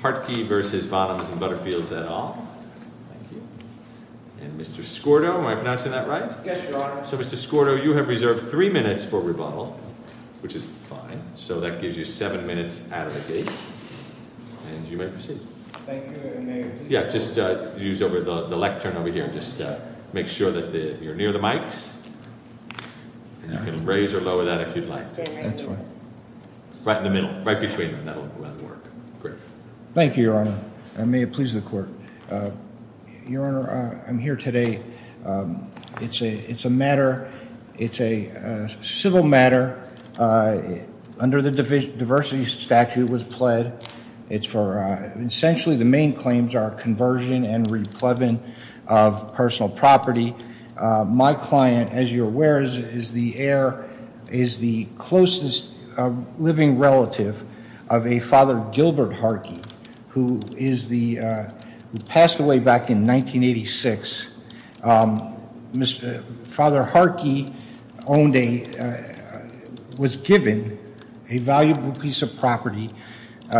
Hartke v. Bonhams & Butterfields et al. And Mr. Skordo, am I pronouncing that right? Yes, Your Honor. So Mr. Skordo, you have reserved three minutes for rebuttal, which is fine. So that gives you seven minutes out of the gate and you may proceed. Thank you, Your Honor. Yeah, just use the lectern over here. Just make sure that you're near the mics and you can raise or lower that if you'd like. That's fine. Right in the middle. Right between them. That'll work. Great. Thank you, Your Honor. And may it please the Court. Your Honor, I'm here today. It's a matter, it's a civil matter. Under the diversity statute was pled. It's for, essentially the main claims are conversion and re-pledging of personal property. My client, as you're aware, is the closest living relative of a Father Gilbert Hartke, who passed away back in 1986. Father Hartke was given a valuable piece of property.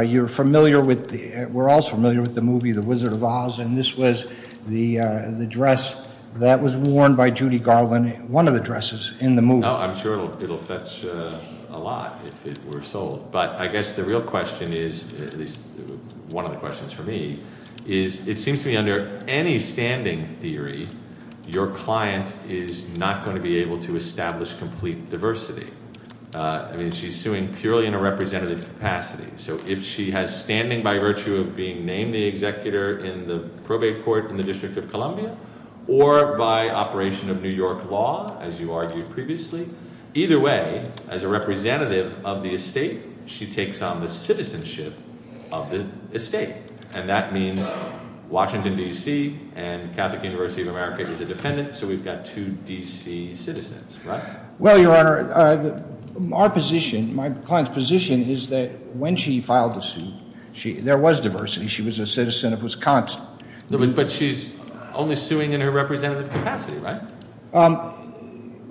You're familiar with, we're all familiar with the movie The Wizard of Oz, and this was the dress that was worn by Judy Garland, one of the dresses in the movie. I'm sure it'll fetch a lot if it were sold, but I guess the real question is, at least one of the questions for me, is it seems to me under any standing theory, your client is not going to be able to establish complete diversity. I mean, she's suing purely in a representative capacity. So if she has standing by virtue of being named the executor in the probate court in the District of Columbia, or by operation of New York law, as you argued previously, either way, as a representative of the estate, she takes on the citizenship of the estate. And that means Washington, D.C. and Well, Your Honor, our position, my client's position is that when she filed the suit, there was diversity. She was a citizen of Wisconsin. But she's only suing in her representative capacity, right?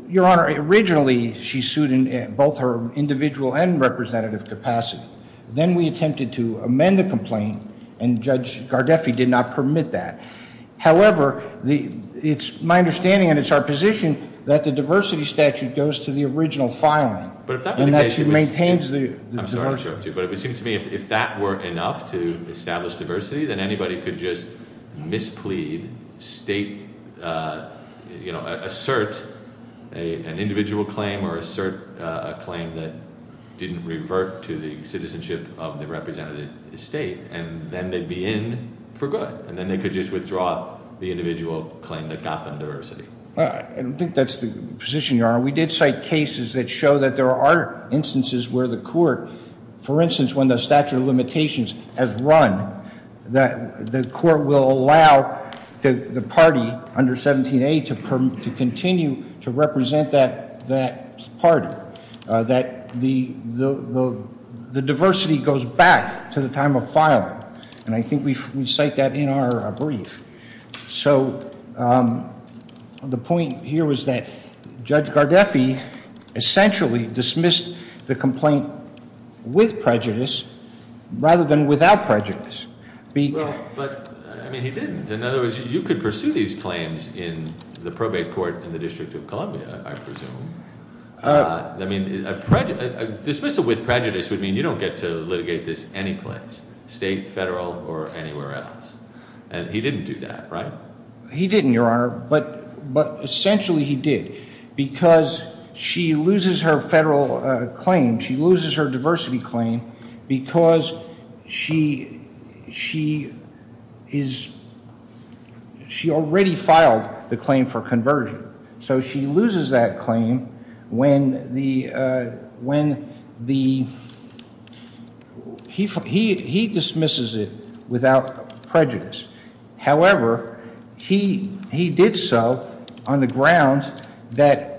Your Honor, originally she sued in both her individual and representative capacity. Then we attempted to amend the complaint, and Judge Gardeffi did not permit that. However, it's my understanding and it's our position that the diversity statute goes to the original filing, and that she maintains the diversity. I'm sorry to interrupt you, but it seems to me if that were enough to establish diversity, then anybody could just misplead state, you know, assert an individual claim or assert a claim that didn't revert to the citizenship of the representative estate, and then they'd be in for good. And then they could just withdraw the individual claim that got them I don't think that's the position, Your Honor. We did cite cases that show that there are instances where the court, for instance, when the statute of limitations has run, that the court will allow the party under 17A to continue to represent that party. That the diversity goes back to the time of filing. And I think we cite that in our brief. So the point here was that Judge Gardeffi essentially dismissed the complaint with prejudice rather than without prejudice. I mean, he didn't. In other words, you could pursue these claims in the probate court in the District of Columbia, I presume. I mean, a dismissal with prejudice would mean you don't get to litigate this any place, state, federal, or anywhere else. And he didn't do that, right? He didn't, Your Honor, but essentially he did. Because she loses her federal claim, she loses her diversity claim, because she already filed the claim for conversion. So she loses that claim when he dismisses it without prejudice. However, he did so on the grounds that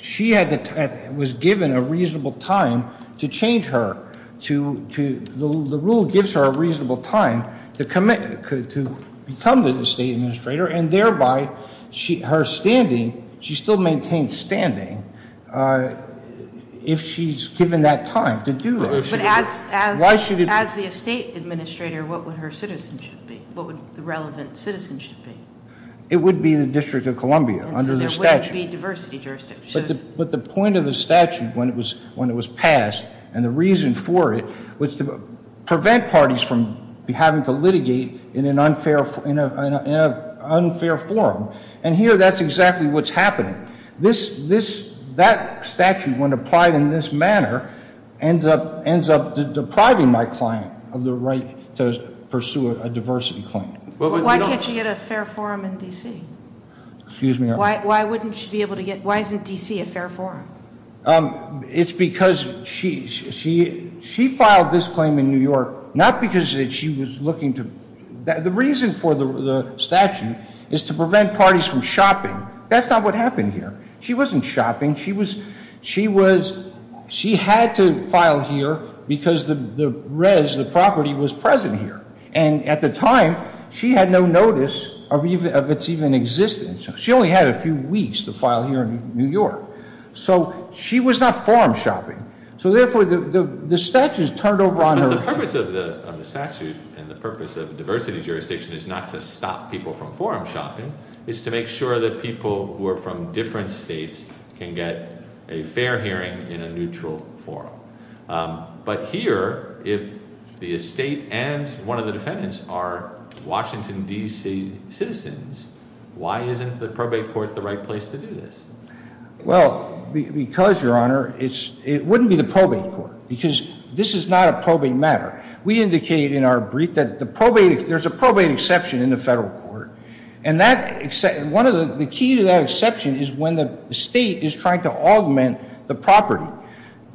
she was given a reasonable time to change her. The rule gives her a reasonable time to become the state administrator and thereby her standing, she still maintains standing if she's given that time to do it. But as the state administrator, what would her citizenship be? What would the relevant citizenship be? It would be the District of Columbia under the statute. And so there wouldn't be diversity jurisdiction. But the point of the statute when it was passed and the reason for it was to prevent parties from having to litigate in an unfair forum. And here that's exactly what's happening. That statute, when applied in this manner, ends up depriving my client of the right to pursue a diversity claim. Why can't she get a fair forum in D.C.? Excuse me, Your Honor? Why isn't D.C. a fair forum? It's because she filed this claim in New York, not because she was looking to... The reason for the statute is to prevent parties from shopping. That's not what happened here. She wasn't shopping. She had to file here because the res, the property, was present here. And at the time, she had no notice of its even existence. She only had a few weeks to file here in New York. So she was not forum shopping. So therefore, the statute turned over on her. But the purpose of the statute and the purpose of diversity jurisdiction is not to stop people from forum shopping. It's to make sure that people who are from different states can get a fair hearing in a neutral forum. But here, if the estate and one of the defendants are Washington, D.C. citizens, why isn't the probate court the right place to do this? Well, because, Your Honor, it wouldn't be the probate court. Because this is not a probate matter. We indicate in our brief that there's a probate exception in the federal court. And the key to that exception is when the state is trying to augment the property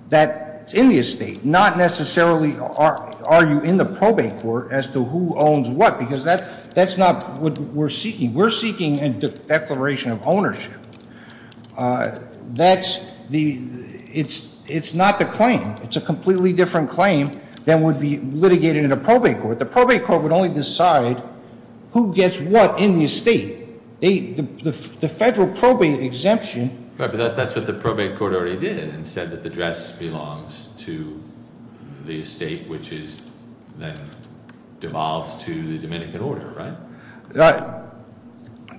that's in the estate, not necessarily argue in the probate court as to who owns what. Because that's not what we're seeking. We're seeking a declaration of ownership. That's the, it's not the claim. It's a completely different claim than would be litigated in a probate court. The probate court would only decide who gets what in the estate. The federal probate exemption. Right, but that's what the probate court already did and said that the dress belongs to the estate, which is then devolved to the Dominican order, right?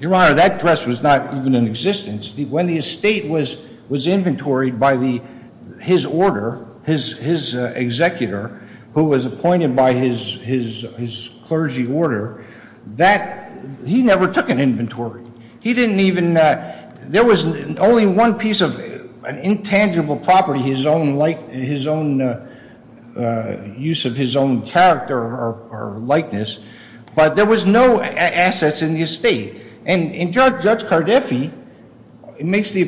Your Honor, that dress was not even in existence. When the estate was inventoried by the, his order, his executor, who was appointed by his clergy order, that, he never took an inventory. He didn't even, there was only one piece of an intangible property, his own like, his own use of his own character or likeness. But there was no assets in the estate. And Judge Cardiffi makes the,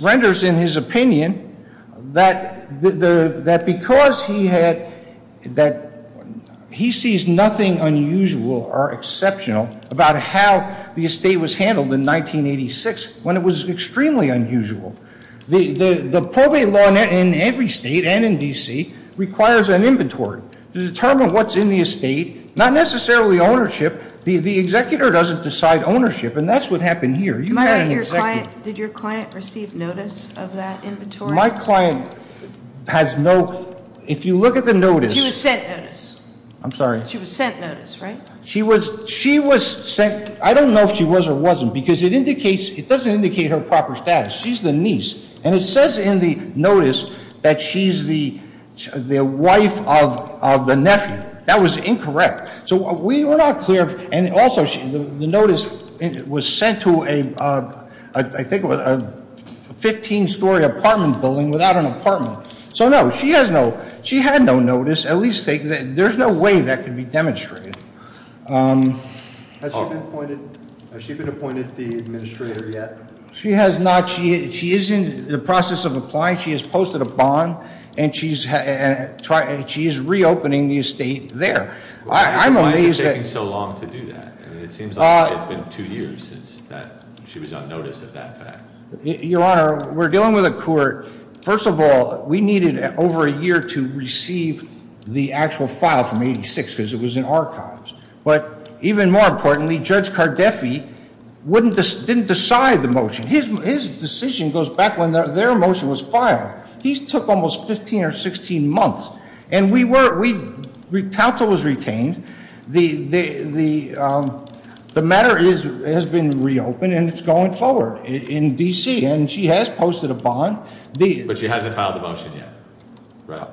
renders in his opinion that because he had, that he sees nothing unusual or exceptional about how the estate was handled in 1986 when it was extremely unusual. The probate law in every state and in D.C. requires an inventory to determine what's in the estate, not necessarily ownership. The executor doesn't decide ownership, and that's what happened here. Your Honor, your client, did your client receive notice of that inventory? My client has no, if you look at the notice. She was sent notice. I'm sorry. She was sent notice, right? She was, she was sent, I don't know if she was or wasn't, because it indicates, it doesn't indicate her proper status. She's the niece. And it says in the notice that she's the wife of the nephew. That was incorrect. So we were not clear, and also the notice was sent to a, I think it was a 15 story apartment building without an apartment. So no, she has no, she had no notice. At least, there's no way that could be demonstrated. Has she been appointed, has she been appointed the administrator yet? She has not. She is in the process of applying. She has posted a bond, and she's reopening the estate there. I'm amazed that- Why has it taken so long to do that? It seems like it's been two years since that, she was on notice of that fact. Your Honor, we're dealing with a court, first of all, we needed over a year to receive the actual file from 86, because it was in archives. But even more importantly, Judge Cardefi wouldn't, didn't decide the motion. His decision goes back when their motion was filed. These took almost 15 or 16 months. And we were, we, counsel was retained. The matter is, it has been reopened, and it's going forward in D.C. And she has posted a bond. But she hasn't filed a motion yet.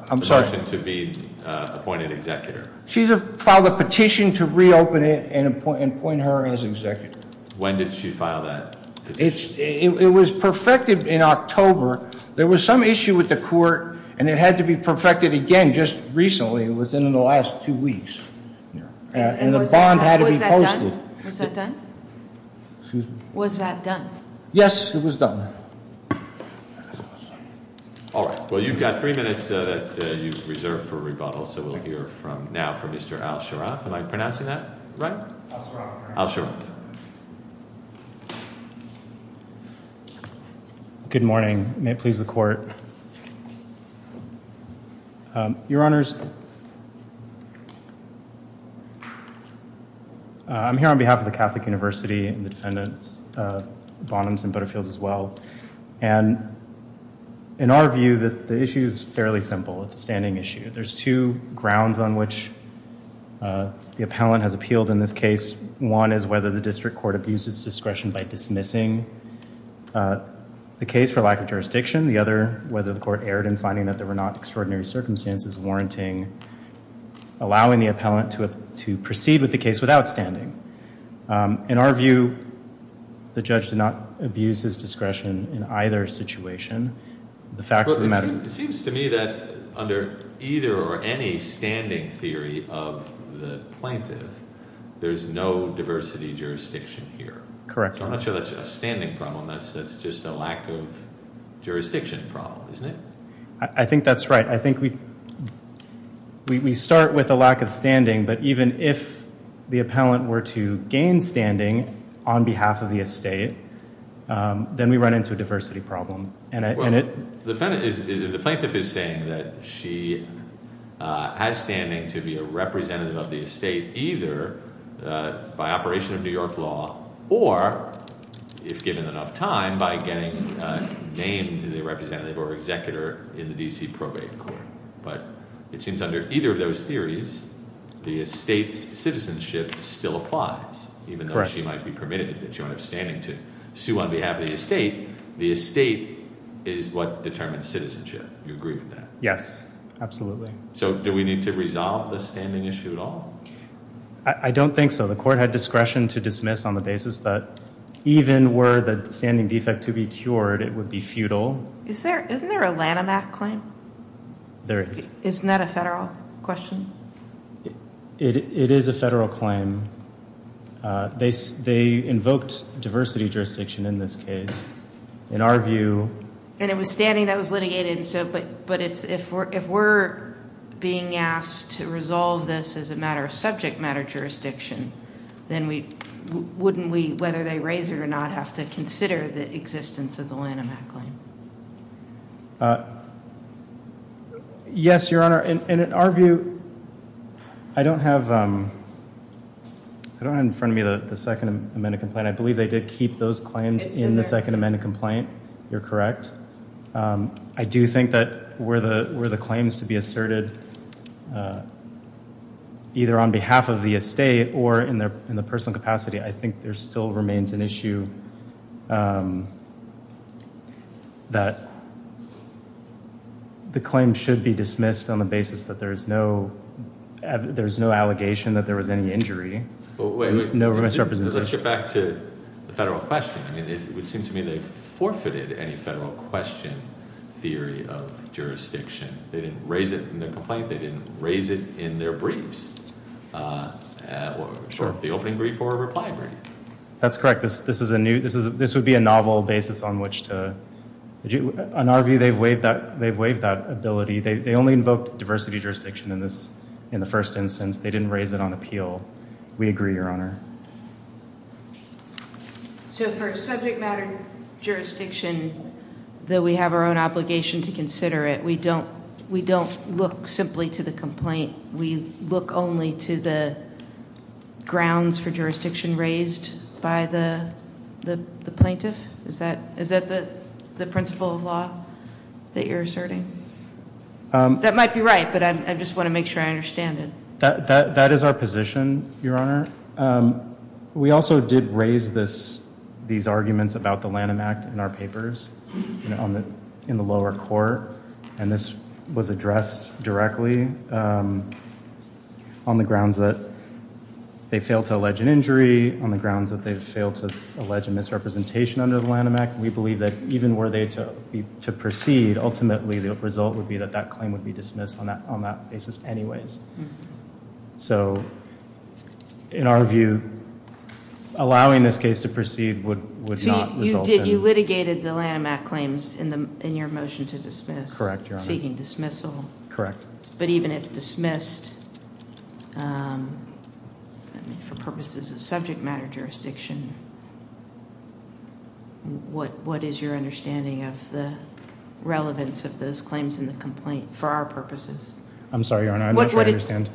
I'm sorry. The motion to be appointed executor. She's filed a petition to reopen it and appoint her as executive. When did she file that? It's, it was perfected in October. There was some issue with the court, and it had to be perfected again just recently. It was in the last two weeks. And the bond had to be posted. Was that done? Excuse me? Was that done? Yes, it was done. All right. Well, you've got three minutes that you've reserved for rebuttal. So we'll hear from now from Mr. Al Sharaf. Am I pronouncing that right? Al Sharaf. Al Sharaf. Good morning. May it please the court. Your honors, I'm here on behalf of the Catholic University and the defendants, Bonhams and Butterfields as well. And in our view, the issue is fairly simple. It's a standing issue. There's two grounds on which the appellant has appealed in this case. One is whether the district court abuses discretion by dismissing the case for lack of jurisdiction. The other, whether the court erred in finding that there were not extraordinary circumstances warranting allowing the appellant to proceed with the case without standing. In our view, the judge did not abuse his discretion in either situation. It seems to me that under either or any standing theory of the plaintiff, there's no diversity jurisdiction here. Correct. I'm not sure that's a standing problem. That's just a lack of jurisdiction problem, isn't it? I think that's right. I think we start with a lack of standing. But even if the appellant were to gain standing on behalf of the estate, then we run into a diversity problem. The plaintiff is saying that she has standing to be a representative of the estate either by operation of New York law or, if given enough time, by getting named the representative or executor in the D.C. probate court. But it seems under either of those theories, the estate's citizenship still applies, even though she might be permitted that she might have standing to sue on behalf of the estate. The estate is what determines citizenship. Do you agree with that? Yes, absolutely. Do we need to resolve the standing issue at all? I don't think so. The court had discretion to dismiss on the basis that even were the standing defect to be cured, it would be futile. Isn't there a Lanham Act claim? There is. Isn't that a federal question? It is a federal claim. They invoked diversity jurisdiction in this case. In our view... And it was standing that was litigated. But if we're being asked to resolve this as a matter of subject matter jurisdiction, then wouldn't we, whether they raise it or not, have to consider the existence of the Lanham Act claim? Yes, Your Honor. In our view, I don't have in front of me the Second Amendment complaint. I believe they did keep those claims in the Second Amendment complaint. You're correct. I do think that were the claims to be asserted, either on behalf of the estate or in the personal capacity, I think there still remains an issue that the claim should be dismissed on the basis that there's no allegation that there was any injury. No misrepresentation. Let's get back to the federal question. It would seem to me they forfeited any federal question theory of jurisdiction. They didn't raise it in their complaint. They didn't raise it in their briefs. The opening brief or reply brief. That's correct. This would be a novel basis on which to... In our view, they've waived that ability. They only invoked diversity jurisdiction in the first instance. They didn't raise it on appeal. We agree, Your Honor. So for subject matter jurisdiction, though we have our own obligation to consider it, we don't look simply to the complaint. We look only to the grounds for jurisdiction raised by the plaintiff? Is that the principle of law that you're asserting? That might be right, but I just want to make sure I understand it. That is our position, Your Honor. We also did raise these arguments about the Lanham Act in our papers in the lower court, and this was addressed directly on the grounds that they failed to allege an injury, on the grounds that they failed to allege a misrepresentation under the Lanham Act. We believe that even were they to proceed, ultimately the result would be that that claim would be dismissed on that basis anyways. So in our view, allowing this case to proceed would not result in... You litigated the Lanham Act claims in your motion to dismiss. Correct, Your Honor. Seeking dismissal. Correct. But even if dismissed for purposes of subject matter jurisdiction, what is your understanding of the relevance of those claims in the complaint for our purposes? I'm sorry, Your Honor. I'm not sure I understand.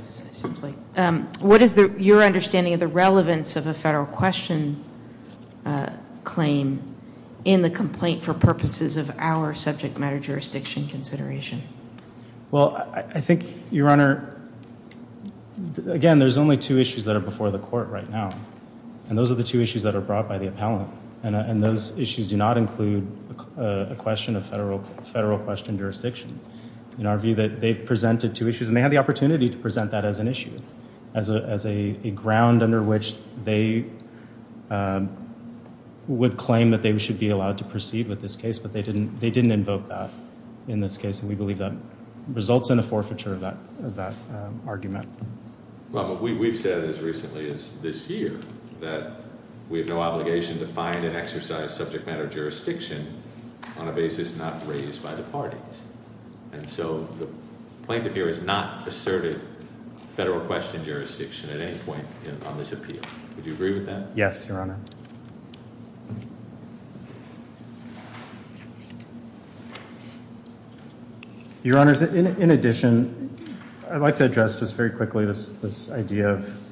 What is your understanding of the relevance of a federal question claim in the complaint for purposes of our subject matter jurisdiction consideration? Well, I think, Your Honor, again, there's only two issues that are before the court right now, and those are the two issues that are brought by the appellant, and those issues do not include a question of federal question jurisdiction. In our view, they've presented two issues, and they had the opportunity to present that as an issue, as a ground under which they would claim that they should be allowed to proceed with this case, but they didn't invoke that in this case, and we believe that results in a forfeiture of that argument. Well, but we've said as recently as this year that we have no obligation to find and exercise subject matter jurisdiction on a basis not raised by the parties, and so the plaintiff here is asserted federal question jurisdiction at any point on this appeal. Would you agree with that? Yes, Your Honor. Your Honors, in addition, I'd like to address just very quickly this idea of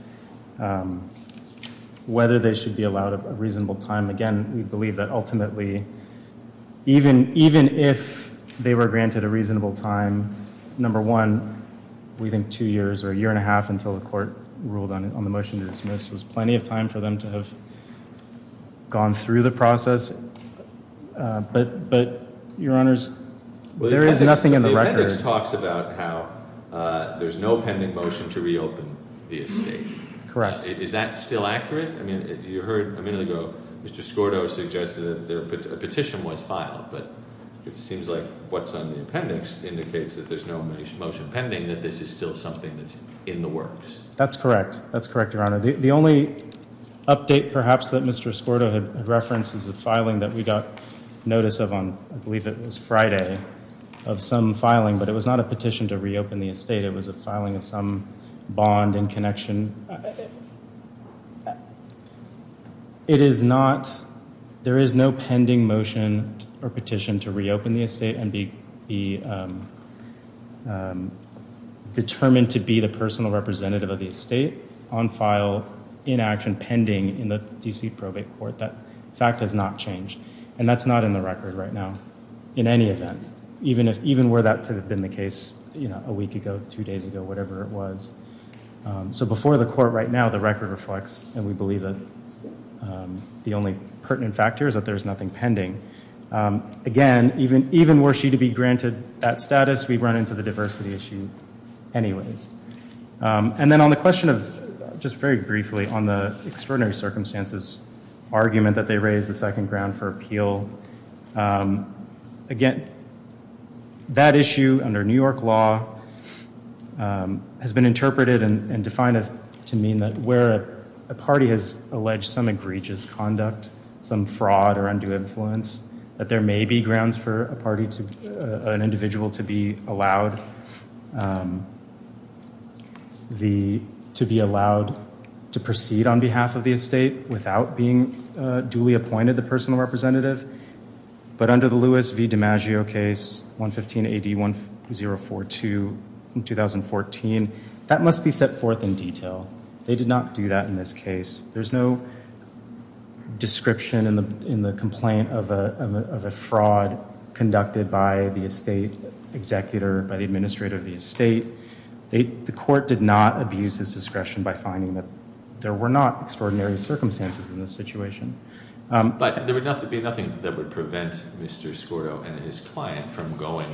whether they should be allowed a reasonable time. Again, we believe that ultimately, even if they were granted a reasonable time, number one, we think two years or a year and a half until the court ruled on the motion to dismiss was plenty of time for them to have gone through the process, but Your Honors, there is nothing in the record. The appendix talks about how there's no pending motion to reopen the estate. Correct. Is that still accurate? I mean, you heard a minute ago, Mr. Skordo suggested that there a petition was filed, but it seems like what's on the appendix indicates that there's no motion pending, that this is still something that's in the works. That's correct. That's correct, Your Honor. The only update, perhaps, that Mr. Skordo had referenced is the filing that we got notice of on, I believe it was Friday, of some filing, but it was not a petition to reopen the estate. It was a filing of some bond and connection. It is not, there is no pending motion or petition to reopen the estate and be determined to be the personal representative of the estate on file in action pending in the D.C. probate court. That fact has not changed, and that's not in the record right now, in any event, even were that to have been the case a week ago, two days ago, whatever it was. So before the court right now, the record reflects, and we believe that the only pertinent factor is that there's nothing pending. Again, even were she to be granted that status, we'd run into the diversity issue anyways. And then on the question of, just very briefly, on the extraordinary circumstances argument that they raised the second ground for appeal, again, that issue under New York law has been interpreted and defined as to mean that where a party has alleged some egregious conduct, some fraud or undue influence, that there may be grounds for a party to, an individual to be allowed the, to be allowed to proceed on behalf of the estate without being duly appointed the 042 in 2014. That must be set forth in detail. They did not do that in this case. There's no description in the complaint of a fraud conducted by the estate executor, by the administrator of the estate. The court did not abuse his discretion by finding that there were not extraordinary circumstances in this situation. But there would be nothing that would prevent Mr. Scordo and his client from going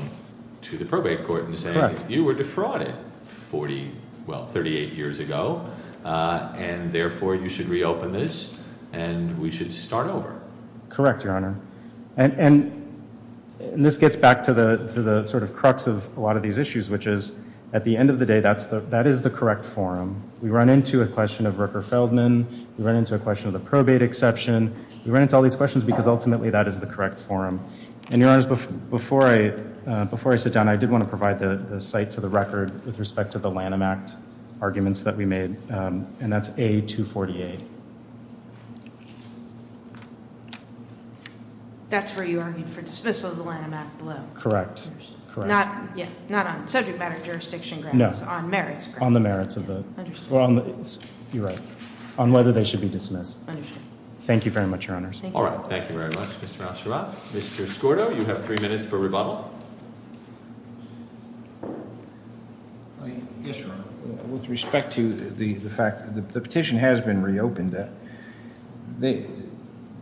to the probate court and saying, you were defrauded 40, well, 38 years ago. And therefore you should reopen this and we should start over. Correct, Your Honor. And, and this gets back to the, to the sort of crux of a lot of these issues, which is at the end of the day, that's the, that is the correct forum. We run into a question of Rooker Feldman. We run into a question of the probate exception. We ran into all these questions because ultimately that is the correct forum. And Your Honor, before I, before I sit down, I did want to provide the site to the record with respect to the Lanham Act arguments that we made. And that's A248. That's where you argued for dismissal of the Lanham Act below. Correct. Correct. Not, yeah, not on subject matter jurisdiction grounds. No. On merits grounds. On the merits of the, well, you're right. On whether they should be dismissed. Understood. Thank you very much, Your Honors. All right. Thank you very much, Mr. Al-Sharaf. Mr. Escorto, you have three minutes for rebuttal. Yes, Your Honor. With respect to the, the fact that the petition has been reopened, the,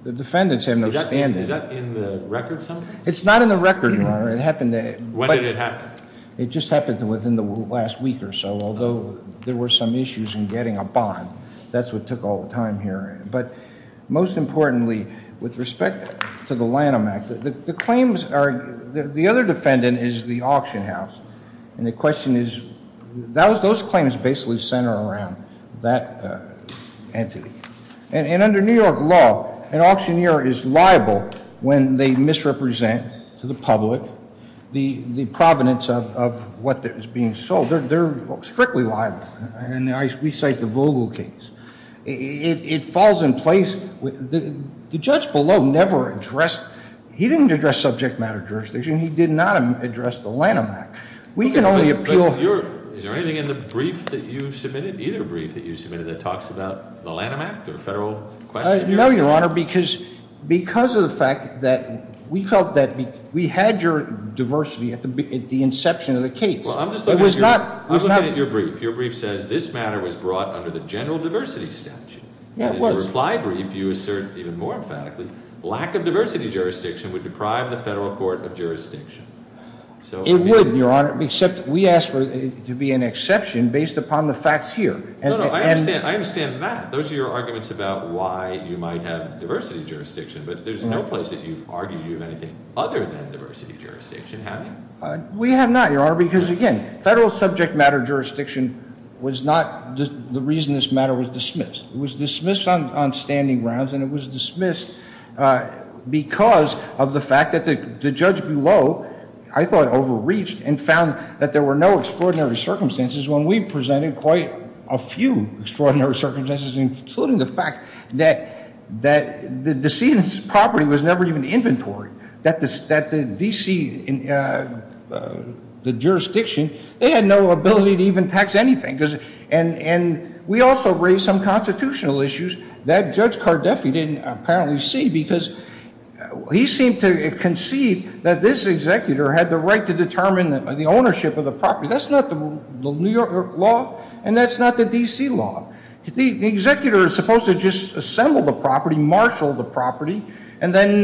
the defendants have no standing. Is that in the record somehow? It's not in the record, Your Honor. It happened. When did it happen? It just happened within the last week or so, although there were some issues in getting a bond. That's what took all the time here. But most importantly, with respect to the Lanham Act, the claims are, the other defendant is the auction house. And the question is, that was, those claims basically center around that entity. And under New York law, an auctioneer is liable when they misrepresent to the public the, the provenance of, what is being sold. They're, they're strictly liable. And I, we cite the Vogel case. It, it falls in place with, the judge below never addressed, he didn't address subject matter jurisdiction. He did not address the Lanham Act. We can only appeal. Is there anything in the brief that you submitted, either brief that you submitted, that talks about the Lanham Act or federal question? No, Your Honor, because, because of the fact that we felt that we had your diversity at the inception of the case. Well, I'm just looking at your brief. Your brief says, this matter was brought under the general diversity statute. And in the reply brief, you assert even more emphatically, lack of diversity jurisdiction would deprive the federal court of jurisdiction. It would, Your Honor, except we asked for it to be an exception based upon the facts here. No, no, I understand. I understand that. Those are your arguments about why you might have diversity jurisdiction. But there's no place that you've argued you have anything other than diversity jurisdiction, have you? We have not, Your Honor, because again, federal subject matter jurisdiction was not the reason this matter was dismissed. It was dismissed on standing grounds and it was dismissed because of the fact that the judge below, I thought, overreached and found that there were no extraordinary circumstances when we presented quite a few extraordinary circumstances, including the fact that, that the decedent's property was inventory. That the D.C. jurisdiction, they had no ability to even tax anything. And we also raised some constitutional issues that Judge Cardefi didn't apparently see because he seemed to concede that this executor had the right to determine the ownership of the property. That's not the New York law. And that's not the D.C. law. The executor is supposed to just assemble the property, marshal the property, and then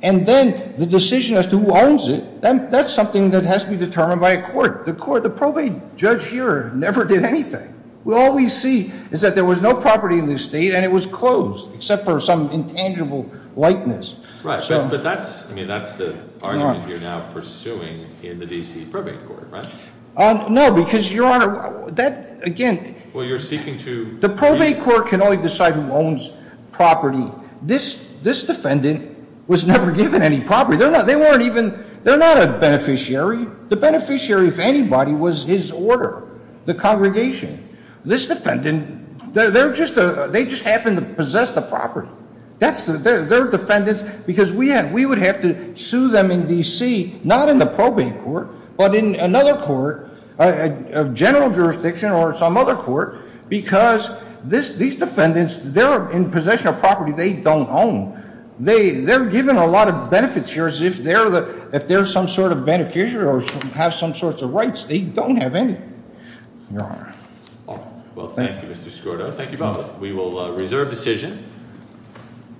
the decision as to who owns it, that's something that has to be determined by a court. The court, the probate judge here never did anything. All we see is that there was no property in this state and it was closed, except for some intangible likeness. Right, but that's, I mean, that's the argument you're now pursuing in the D.C. probate court, right? No, because, Your Honor, that again... Well, you're seeking to... The probate court can only decide who owns property. This defendant was never given any property. They're not, they weren't even, they're not a beneficiary. The beneficiary, if anybody, was his order, the congregation. This defendant, they're just, they just happened to possess the property. That's, they're defendants because we would have to sue them in D.C., not in the probate court, but in another court, a general jurisdiction or some other court, because this, these defendants, they're in possession of property they don't own. They, they're given a lot of benefits here as if they're the, if they're some sort of beneficiary or have some sorts of rights. They don't have any, Your Honor. Well, thank you, Mr. Skorda. Thank you both. We will reserve decision.